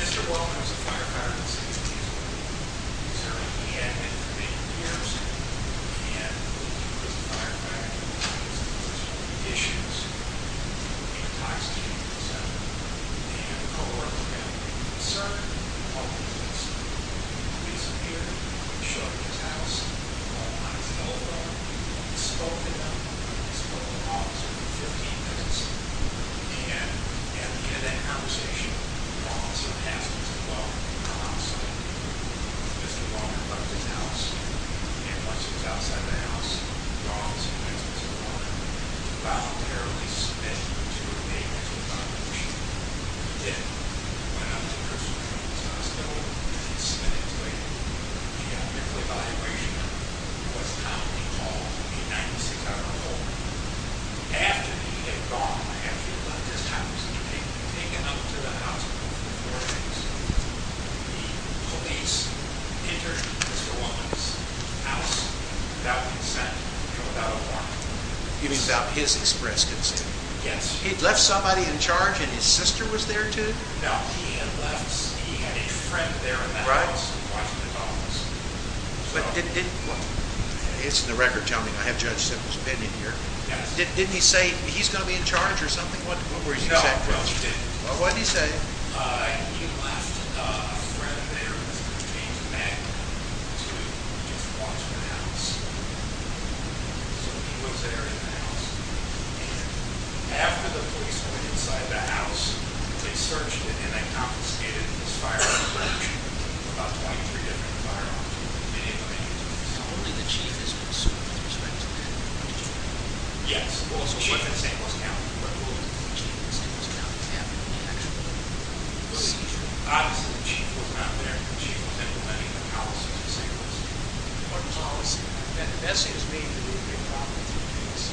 Mr. Wellman is a firefighter. He is a member of the St. Louis Fire Department. Mr. Wellman is a member of the St. Louis Fire Department. He had been for many years and was a firefighter. He had issues with the tax team, etc. He had a co-worker who had a concern about police. The police appeared, showed up at his house, called on his telephone. He spoke to them, and he spoke to all of them for 15 minutes. And at the end of that conversation, he called some housemates and welcomed them outside. Mr. Wellman left his house, and once he was outside the house, he called some housemates in the corner. He voluntarily submitted to a mental evaluation. He did. He went up to the person in his hospital, and he submitted to a mental evaluation. It was commonly called a 96-hour call. After he had gone, I feel that this time he was taken up to the hospital for four days. The police entered Mr. Wellman's house without consent, without a warrant. You mean without his express consent? Yes. He'd left somebody in charge, and his sister was there too? No, he had left. He had a friend there in that house, in the Washington office. It's in the record telling me. I have Judge Simpson's opinion here. Yes. Didn't he say he's going to be in charge or something? What were his exact questions? No, he didn't. Well, what did he say? He left a friend there, Mr. James McNamara, to just watch the house. So he was there in the house, and after the police went inside the house, they searched it, and they confiscated this firearm collection. There were about 23 different firearms. Only the chief has been sued with respect to that. Yes. Well, the chief in St. Louis County. The chief in St. Louis County was having an actual seizure. Obviously, the chief wasn't out there. The chief was implementing the policies in St. Louis. What policy? That seems to me to be a big problem in this case.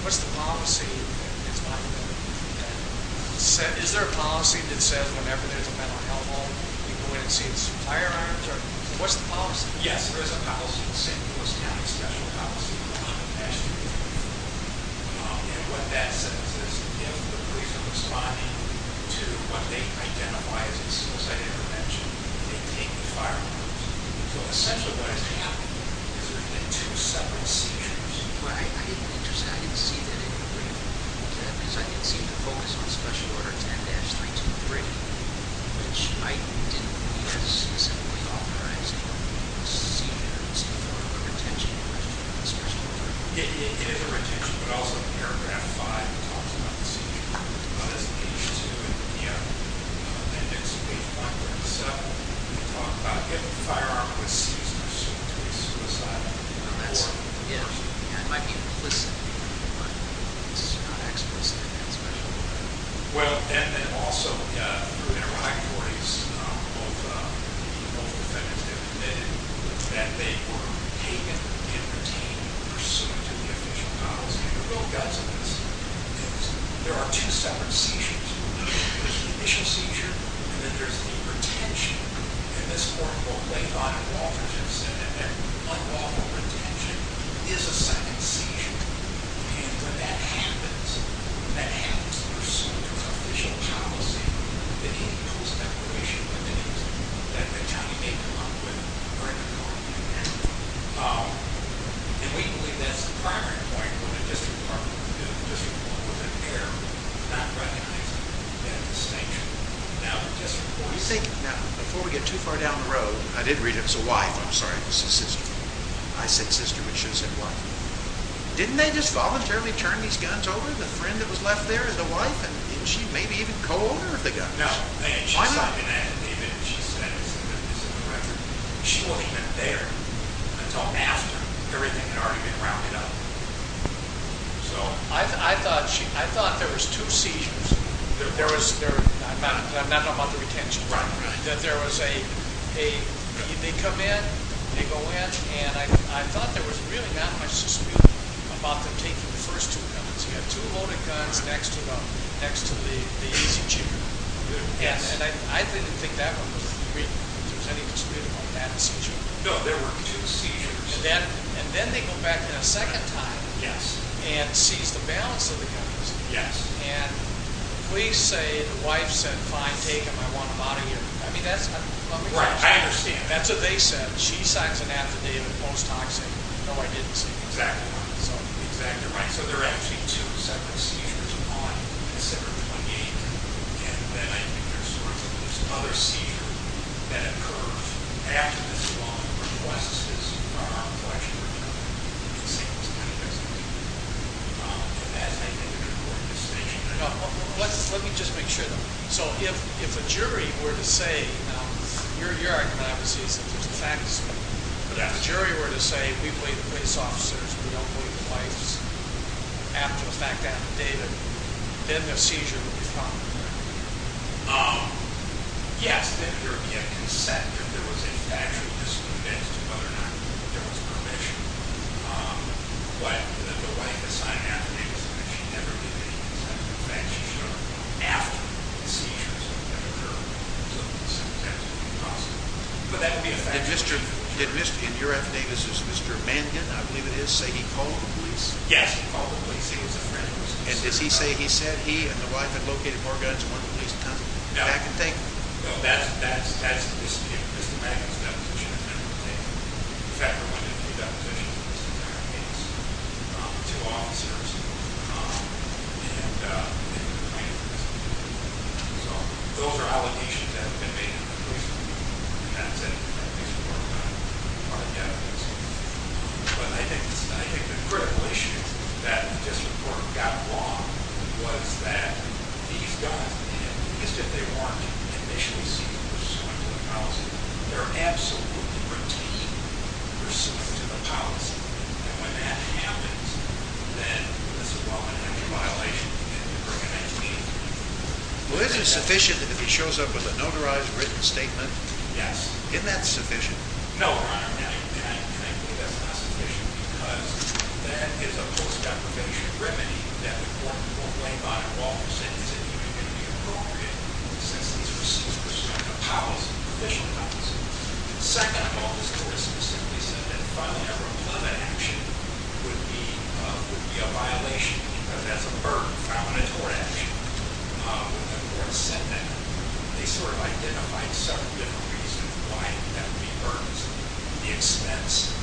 What's the policy? Is there a policy that says whenever there's a mental health home, you can go in and seize some firearms? What's the policy? Yes, there is a policy in St. Louis County, a special policy. And what that says is if the police are responding to what they identify as a suicide intervention, they take the firearms. So essentially what is happening is there's going to be two separate seizures. Well, I didn't see that in the brief. Because I didn't see the focus on Special Order 10-323, which I didn't see as simply authorizing a seizure. It's more of a retention of the Special Order. It is a retention. But also in paragraph 5, it talks about the seizure. That's page 2 and 3 of the index page 5. So when you talk about getting a firearm when seized, it's a pursuit to a suicide. It might be implicit, but it's not explicitly in Special Order 10-323. Well, and then also through Interim High Courts, both defendants admitted that they were taken and retained in pursuit of the official policy. And the real guts of this is there are two separate seizures. There's the initial seizure, and then there's the retention. And this court, quote, laid out in Walter's instance, that unlawful retention is a second seizure. And when that happens, that happens in pursuit of official policy, that includes deprivation of liberties that the county may come up with during the Court of Appeal. And we believe that's the primary point when the District Department and the District Law Enforcement care not recognizing that distinction. Now, before we get too far down the road, I did read it. It was a wife. I'm sorry, it was a sister. I said sister, but she said wife. Didn't they just voluntarily turn these guns over? The friend that was left there, the wife? And didn't she maybe even co-order the guns? No. She signed an affidavit, and she said it was in the record. She wasn't even there until after. Everything had already been rounded up. So I thought there was two seizures. I'm not talking about the retention. Right, right. That there was a—they come in, they go in, and I thought there was really not much dispute about them taking the first two guns. He had two loaded guns next to the easy chamber. Yes. And I didn't think that one was three. Was there any dispute about that seizure? No, there were two seizures. And then they go back a second time and seize the balance of the guns. Yes. And please say the wife said, fine, take them. I want them out of here. I mean, that's— Right, I understand. That's what they said. She signs an affidavit post-toxic. No, I didn't say that. Exactly right. Exactly right. So there are actually two separate seizures on December 28th, and then I think there's sort of this other seizure that occurs after this one requests his arm flexion recovered. It's the same kind of execution. And that's making an important distinction. Let me just make sure, though. So if a jury were to say—now, your argument, obviously, is that there's facts, but if a jury were to say, we believe the police officers, we don't believe the wifes, after the fact affidavit, then the seizure would be found. Yes, then there would be a consent if there was a factual dispute as to whether or not there was permission. But the wife that signed the affidavit said that she never believed the police. I don't know the facts. She showed up after the seizures that occurred. So the sentence hasn't been processed. But that would be a factual dispute. Did Mr.—in your affidavit, is this Mr. Mangan, I believe it is, say he called the police? Yes, he called the police. He was a friend of Mr. Sears' wife. And does he say he said he and the wife had located more guns than one police attorney? No. I can take that. No, that's Mr. Mangan's deposition. I'm not going to take it. In fact, there have been a few depositions in this entire case to officers and plaintiffs. So those are allegations that have been made in the police report. And that's it. That piece of work is not part of the affidavit. But I think the critical issue that this report got wrong was that these guns, at least if they weren't initially seen pursuant to the policy, they're absolutely routine, pursuant to the policy. And when that happens, then there's a well-connected violation and you bring it back to me. Well, isn't it sufficient if he shows up with a notarized, written statement? Yes. Isn't that sufficient? No, Your Honor, I think that's not sufficient because that is a post-deprivation remedy that the court will blame on it all since it isn't even going to be appropriate since these are pursuant to policy, official policy. Second, all this court has specifically said that filing a reprimand action would be a violation because that's a burden found in a tort action. The court said that. They sort of identified several different reasons why that would be a burden. The expense,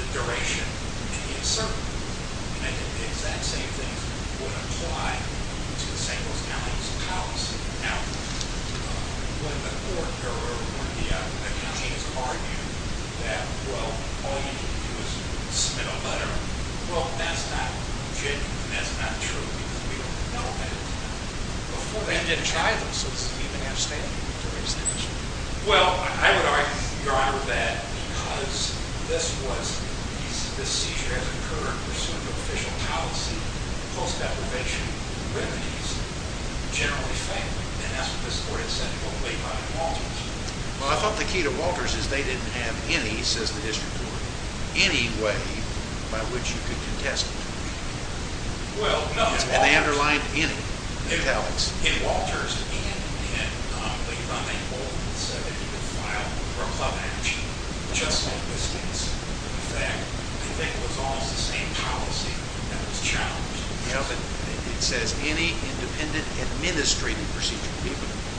the duration, and the uncertainty. And I think the exact same thing would apply to the St. Louis County's policy. Now, when the court or one of the attorneys argued that, well, all you can do is submit a letter, well, that's not legitimate and that's not true because we don't know that. They didn't try this. It's even in a statement. Well, I would argue, Your Honor, that because this seizure has occurred pursuant to official policy, post-deprivation remedies generally fail. And that's what this court has said to what was laid by the Walters. Well, I thought the key to Walters is they didn't have any, says the district court, any way by which you could contest it. Well, no. And they underlined any in the talents. In Walters, and in Latham and Bolton, it said that you could file for a clemency just like this case. In fact, I think it was almost the same policy that was challenged. Yeah, but it says any independent administrative procedure.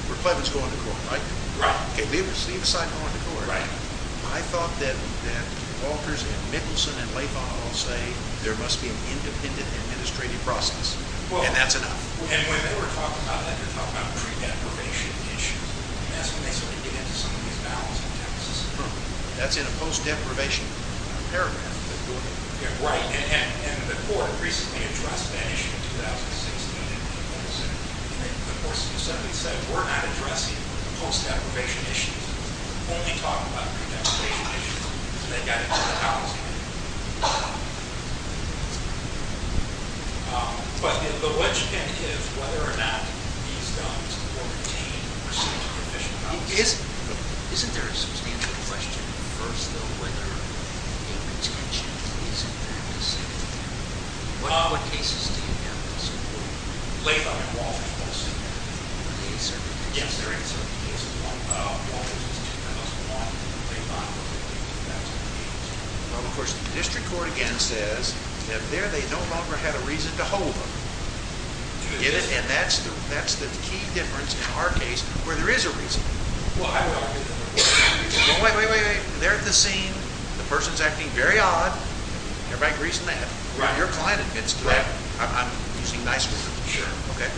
We're clemency going to court, right? Right. Okay, leave aside going to court. Right. I thought that Walters and Mickelson and Latham all say there must be an independent administrative process. And that's enough. And when they were talking about that, they were talking about pre-deprivation issues. And that's when they sort of get into some of these balancing tasks. That's in a post-deprivation paragraph. Yeah, right. And the court recently addressed that issue in 2006, and they didn't propose it. And they more specifically said, we're not addressing post-deprivation issues. We're only talking about pre-deprivation issues. And they got into the balancing act. But the question is whether or not these guns were obtained or sent for fishing purposes. Isn't there a substantive question first, though, whether the retention of these and their missing? What cases do you have in support? Latham and Walters both say that. Are they a certain case? Yes, they're a certain case. Walters is 2-0-1, and Latham, what do you think that's going to be? Well, of course, the district court again says that there they no longer have a reason to hold them. Do they? And that's the key difference in our case where there is a reason. Well, I would argue that. Wait, wait, wait. They're at the scene. The person's acting very odd. Everybody agrees on that. Right. Your client admits to that. Right. I'm using nice words. Sure. Okay.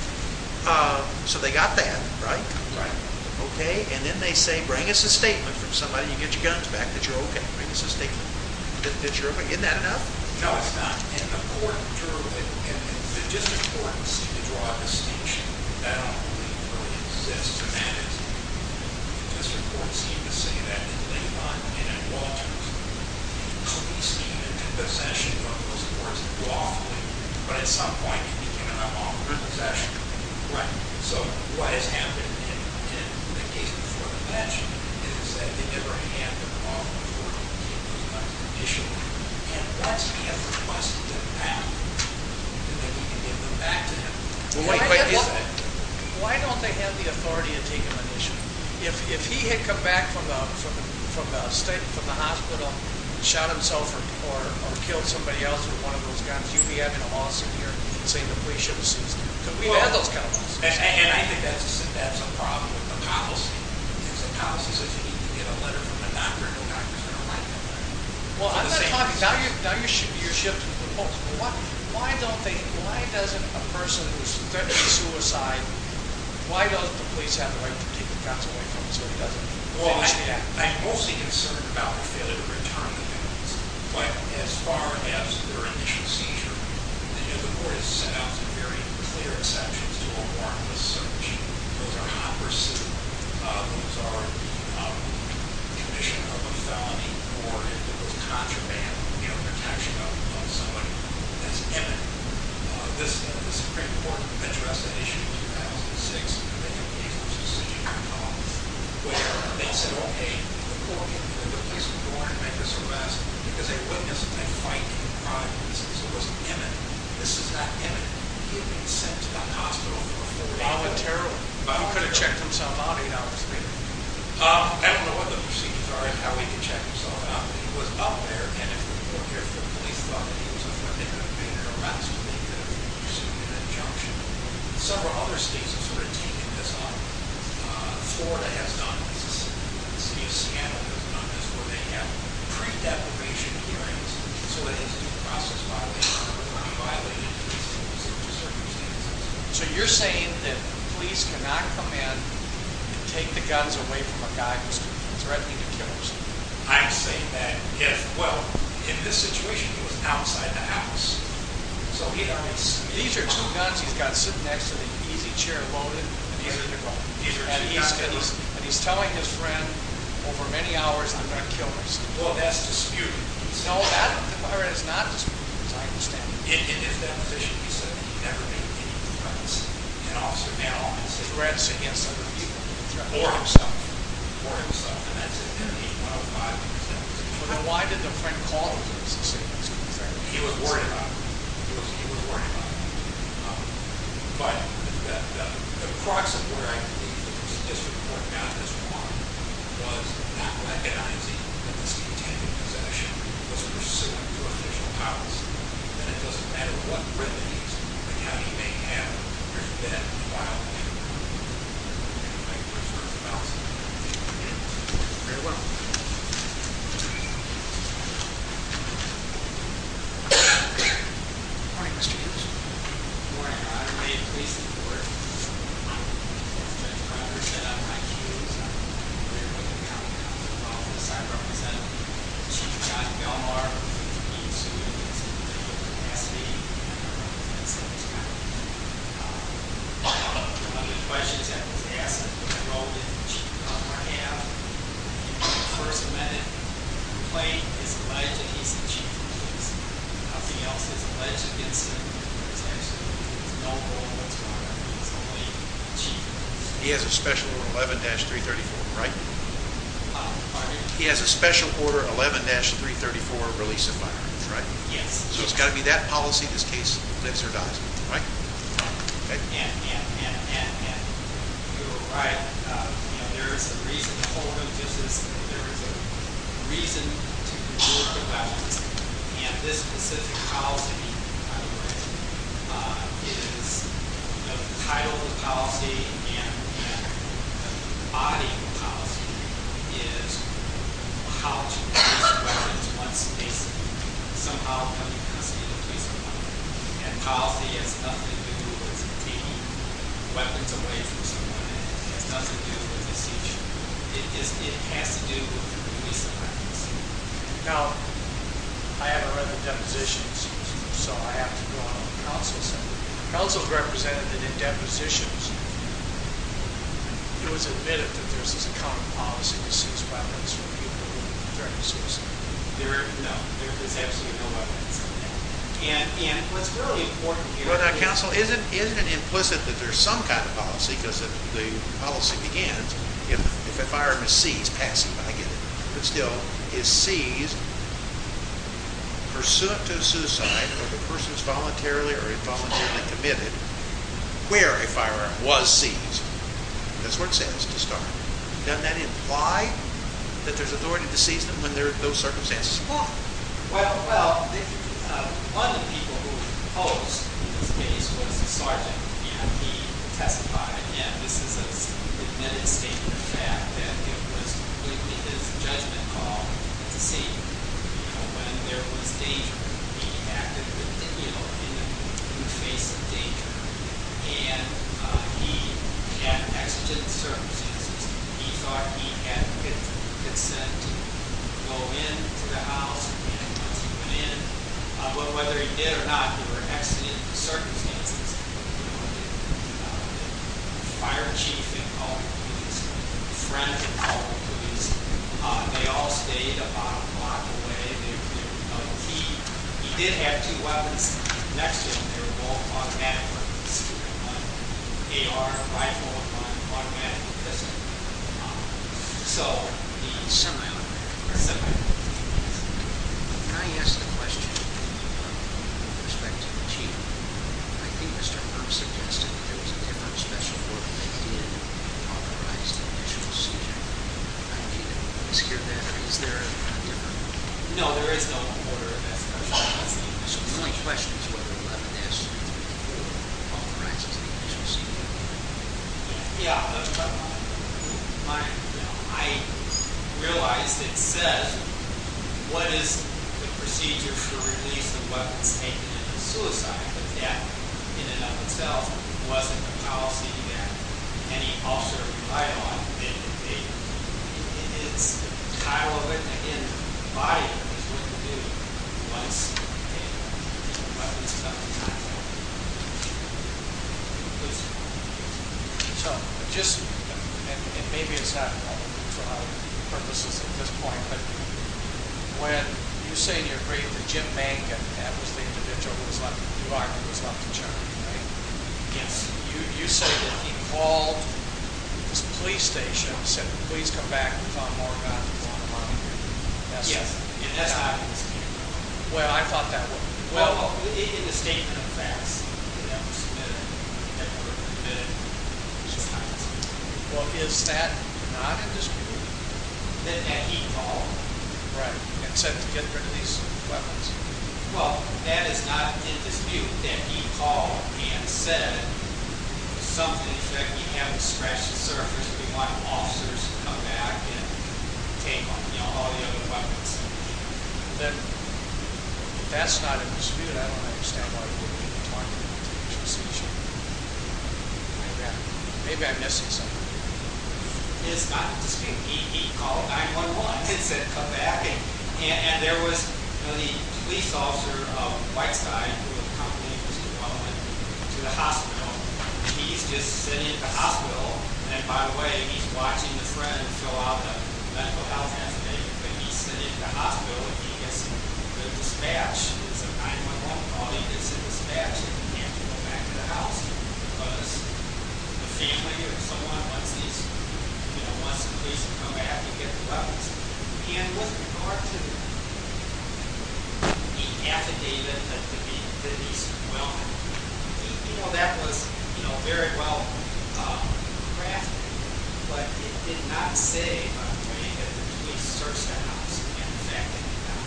So they got that, right? Right. Okay. And then they say, bring us a statement from somebody. You get your guns back that you're okay. Bring us a statement. Isn't that enough? No, it's not. And the court, the district court seemed to draw a distinction that I don't believe really exists. And that is the district court seemed to say that in Latham and in Walters. The police came into possession of those courts lawfully. But at some point, it became an unlawful possession. Right. So what has happened in the case before the bench is that they never had the lawful authority to take a munition. And once he has requested them back, do they need to give them back to him? Why don't they have the authority to take a munition? If he had come back from the hospital and shot himself or killed somebody else with one of those guns, you'd be having a lawsuit here saying the police shouldn't have seized him because we've had those kind of lawsuits. And I think that's a problem with the policy. Because the policy says you need to get a letter from the doctor and no doctor is going to write that letter. Well, I'm not talking – now you're shifting the focus. Why don't they – why doesn't a person who's threatening suicide, why doesn't the police have the right to take the guns away from him so he doesn't finish the act? Well, I'm mostly concerned about the failure to return the guns. But as far as their initial seizure, the court has set out some very clear exceptions to a warrantless search. Those are Hopper's suit. Those are the condition of a felony warrant that was contraband, you know, protection of somebody that's imminent. The Supreme Court addressed the issue in 2006 in the New England Police Department's decision to call, where they said, okay, the court can't give the police a warrant to make this arrest because they witnessed a fight and a crime that was imminent. This is not imminent. He had been sent to that hospital for four years. He could have checked himself out eight hours later. I don't know what the proceedings are and how he could check himself out. He was out there, and if the police thought that he was a threat, they could have been harassed and they could have received an injunction. Several other states have sort of taken this on. Florida has done this. The city of Seattle has done this, where they have pre-delegation hearings so that it can be processed by a way of violating the circumstances. So you're saying that the police cannot come in and take the guns away from a guy who's threatening to kill himself? I'm saying that if, well, in this situation, he was outside the house. So these are two guns he's got sitting next to the easy chair loaded, and he's telling his friend, over many hours, I'm going to kill myself. Well, that's disputed. No, that part is not disputed, as I understand it. In his deposition, he said that he never made any threats, and also now he's making threats against other people, or himself. Or himself, and that's in page 105. Well, then why did the friend call him to say that? He was worried about him. He was worried about him. But the crux of where I think the district court got this wrong was not recognizing that this containment possession was pursuant to official powers. And it doesn't matter what privilege the county may have, there's been a violation. Thank you very much. Very well. Good morning, Mr. Gingrich. Good morning. May it please the court, Mr. Gingrich, I represent Chief John Belmar. He's a student that's in critical capacity. I don't know if that's what he's talking about. One of the questions that was asked, I wrote it in Chief Belmar half. The first minute complaint is alleged that he's the chief of police. Nothing else is alleged against him. He has a special order 11-334, right? He has a special order 11-334, release of firearms, right? Yes. So it's got to be that policy in this case, lives or dies, right? And you're right. There is a reason to hold him justice. There is a reason to continue the violence. And this specific policy, by the way, is the title of the policy and the body of the policy is how to address the violence in one space. And policy has nothing to do with taking weapons away from someone. It has nothing to do with this issue. It has to do with the release of weapons. Now, I haven't read the depositions, so I have to go on to the counsel's side. The counsel's representative did depositions. It was admitted that there was this account of policy to seize weapons from people who were threatening suicide. No, there's absolutely no weapons. And what's really important here is— Well, now, counsel, isn't it implicit that there's some kind of policy because the policy begins, if a firearm is seized, passive, I get it, but still is seized pursuant to suicide or the person is voluntarily or involuntarily committed where a firearm was seized. That's what it says to start. Doesn't that imply that there's authority to seize them when there are those circumstances? Well, one of the people who posed in this case was a sergeant, and he testified, and this is a admitted statement of fact, that it was completely his judgment call to seize. You know, when there was danger, he acted in the face of danger, and he had exigent circumstances. He thought he had consent to go into the house and once he went in, whether he did or not, there were exigent circumstances. The fire chief had called the police. His friends had called the police. They all stayed about a block away. He did have two weapons next to him. They were both automatic weapons. AR, rifle, automatic pistol. So the semi-automatic. Can I ask a question with respect to the chief? I think Mr. Burr suggested that there was a different special order that he had authorized the initial seizure. Is there a difference? No, there is no order of that special order. So the only question is whether Levin asked you to authorize the initial seizure. Yeah, but I realized it says what is the procedure for release of weapons taken in a suicide attack in and of itself wasn't a policy that any officer relied on. It's the title of it and the body of it is going to do what it's supposed to do. So just, and maybe it's not for other purposes at this point, but when you say in your brief that Jim Mangan, that was the individual who was left in New York, was left in Germany, right? Yes. You say that he called the police station and said, please come back and find more weapons on the monitor. Yes. And that's the reason he didn't come back. Well, I thought that would be. Well, in the statement of facts that were submitted, that were submitted, it's just not in dispute. Well, is that not in dispute? That he called. Right, and said to get rid of these weapons. Well, that is not in dispute that he called and said something that we haven't scratched the surface, we want officers to come back and take all the other weapons. Then that's not in dispute. I don't understand why he wouldn't be talking about the procedure. Maybe I'm missing something. It's not in dispute. He called 911 and said come back. Okay, and there was the police officer of Whiteside who accompanied Mr. Baldwin to the hospital. He's just sitting at the hospital. And, by the way, he's watching his friend go out to the medical house and everything, but he's sitting at the hospital and he gets the dispatch. It's a 911 call and he gets the dispatch and he can't come back to the house because the family or someone wants the police to come back and get the weapons. And with regard to the affidavit of Denise Wellman, that was very well crafted, but it did not say, by the way, that the police searched her house and the fact that they did not.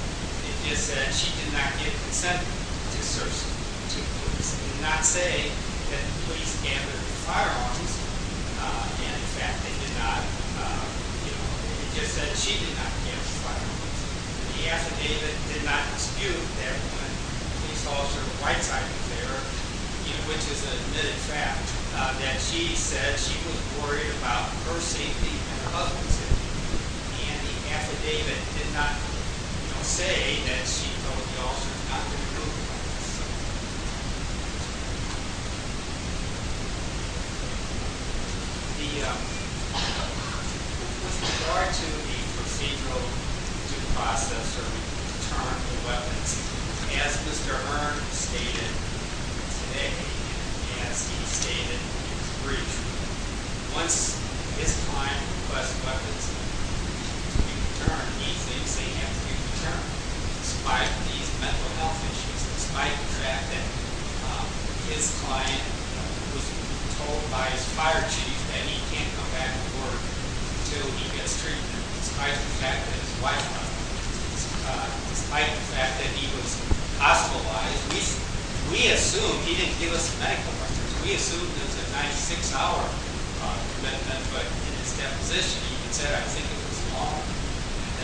It just said she did not get consent to search the house. It did not say that the police gathered the firearms and the fact that they did not. It just said she did not get the firearms. The affidavit did not dispute that police officer of Whiteside was there, which is an admitted fact, that she said she was worried about her safety and her husband's safety. And the affidavit did not say that she told the officers not to remove the weapons. With regard to the procedural due process for returning the weapons, as Mr. Earn stated today and as he stated in his brief, once his client requests weapons to be returned, he thinks they have to be returned. Despite these mental health issues, despite the fact that his client was told by his fire chief that he can't come back to work until he gets treatment, despite the fact that his wife, despite the fact that he was hospitalized, we assume he didn't give us medical records. We assume there's a 96-hour commitment, but in his deposition he said, I think it was long,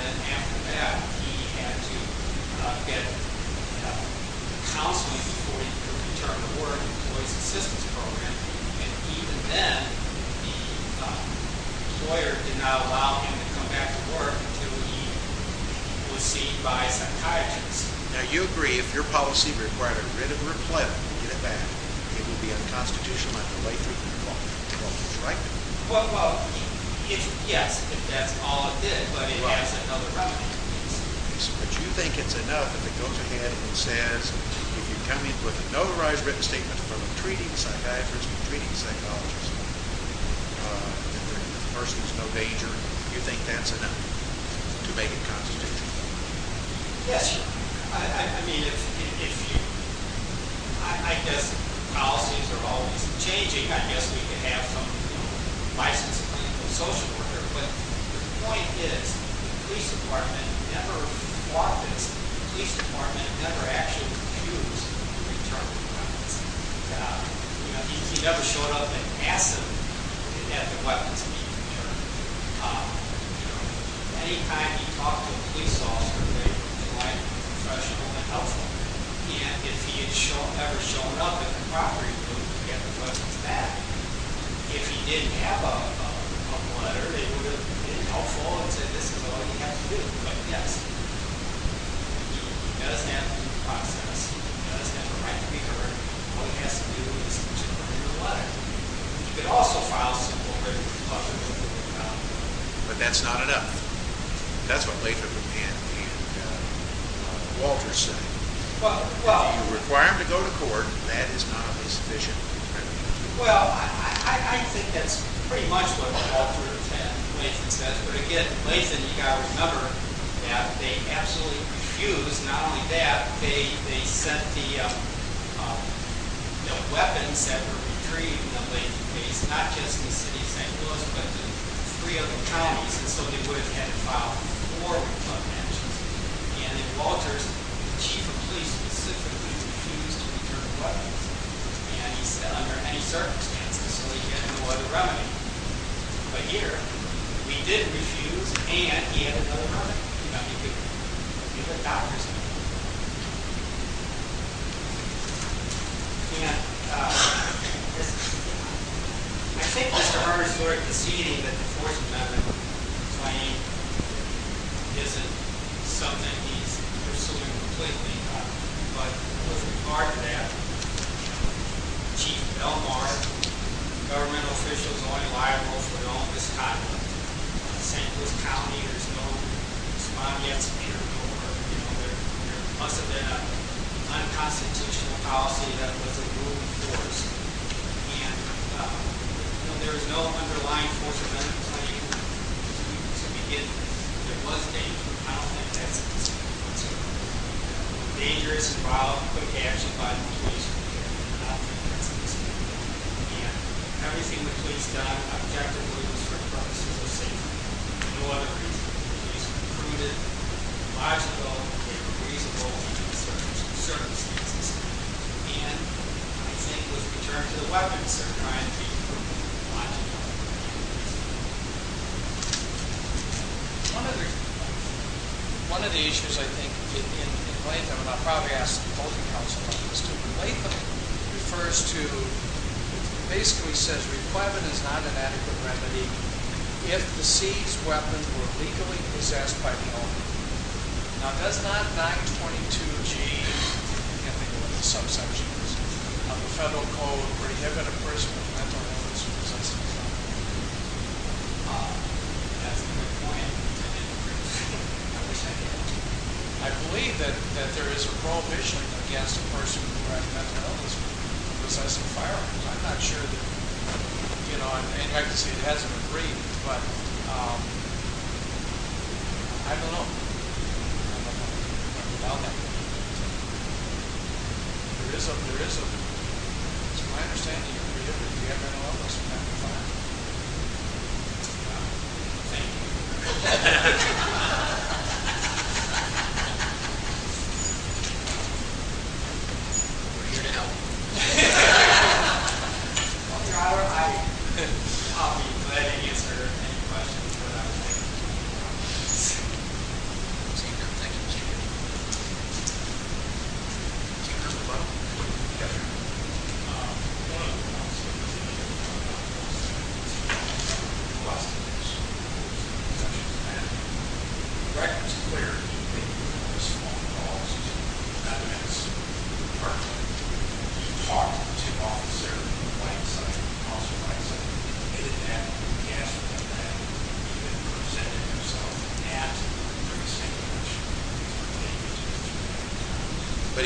and after that he had to get counseling before he could return to work, employee's assistance program, and even then the lawyer did not allow him to come back to work until he was seen by a psychiatrist. Now, you agree if your policy required a written reply to get it back, it would be unconstitutional not to wait three to four months, which is right? Well, yes, if that's all it did, but it has another remedy in place. But you think it's enough if it goes ahead and says, if you come in with a notarized written statement from a treating psychiatrist and a treating psychologist, and the person is no danger, you think that's enough to make it constitutional? Yes, sir. I mean, I guess policies are always changing. I guess we could have some license to be a social worker, but the point is the police department never fought this. The police department never actually refused to return the weapons. He never showed up and asked them to have the weapons returned. Any time he talked to a police officer, they would be professional and helpful. And if he had ever shown up at the property, they would get the weapons back. If he didn't have a letter, they would have been helpful and said, this is all you have to do, put an S in it. He does have due process. He does have the right to be heard. All he has to do is put an S in the letter. You could also file a civil written complaint. But that's not enough. That's what Latham and Walters said. If you require him to go to court, that is not a sufficient criminal charge. Well, I think that's pretty much what Walters and Latham said. But again, Latham, you've got to remember that they absolutely refused. Not only that, they sent the weapons that were retrieved, not just in the city of St. Louis, but in three other counties. And so they would have had to file four complaints. And then Walters, the chief of police specifically, refused to return the weapons. And he said under any circumstances. So he had no other remedy. But here, he did refuse, and he had no other remedy. I think that's all I can say. I think Mr. Harmer's word this evening that the force of method claim isn't something he's pursuing completely. But with regard to that, Chief Belmar, governmental officials only liable for their own misconduct. In St. Louis County, there's no spot yet to enter court. There must have been an unconstitutional policy that was a rule of force. And there is no underlying force of method claim to begin with. If there was any, I don't think that's at this point. It's a dangerous problem put to action by the police. I don't think that's at this point. And everything the police have done objectively is for the purpose of the state. There's no other reason. The police recruited logical, reasonable circumstances. And I think with the return to the weapons, they're trying to be logical and reasonable. One of the issues, I think, in Latham, and I'll probably ask both counsel, Latham refers to, basically says, requirement is not an adequate remedy if the seized weapons were legally possessed by the owner. Now, does not 922 change anything with the subsection of the federal code prohibit a person with mental illness from possessing a weapon? That's the point. I believe that there is a prohibition against a person who has mental illness from possessing firearms. I'm not sure that, you know, and I can see it hasn't been agreed, but I don't know. I don't know how to talk about that. There is a, there is a, it's my understanding, a prohibition if you have mental illness from having firearms. Thank you. We're here to help. I'll be glad to answer any questions, whatever they may be. Thank you, Mr. Chairman. Yes, sir. But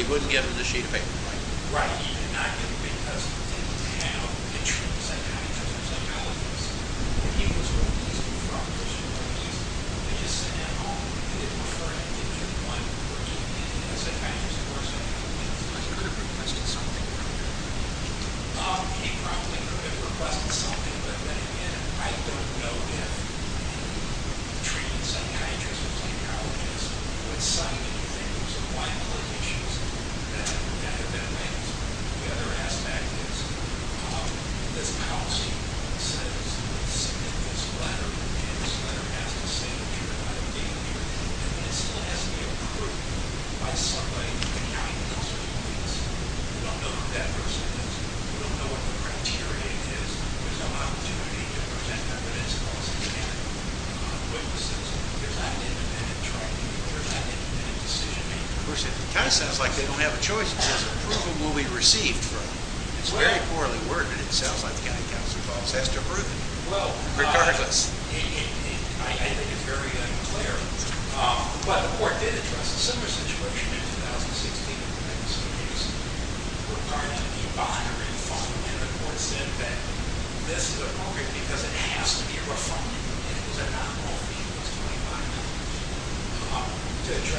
he wouldn't give him the sheet of paper. Yes, sir. It kind of sounds like they don't have a choice. Approval will be received from him. It's very poorly worded. It sounds like the county council boss has to approve it. Regardless. The judge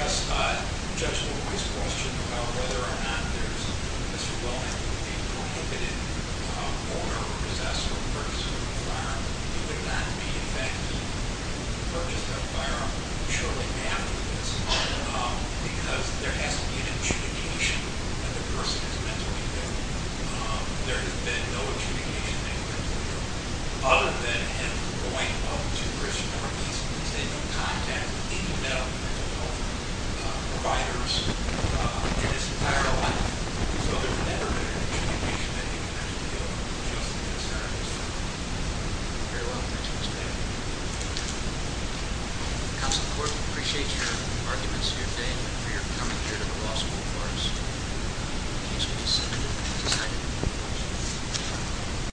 will always question whether or not there is a prohibited owner or possessor of a firearm. It would not be, in fact, he purchased a firearm shortly after this because there has to be an adjudication that the person is mentally ill. There has been no adjudication in mental health. Other than him going up to Christian Heart Institute and staying in contact with any mental health providers in his entire life. So there's never been an adjudication that he was mentally ill just in his entire lifetime. Very well. Thank you, Mr. Chairman. The council court appreciates your arguments here today and for your coming here to the law school for us. It's been a pleasure.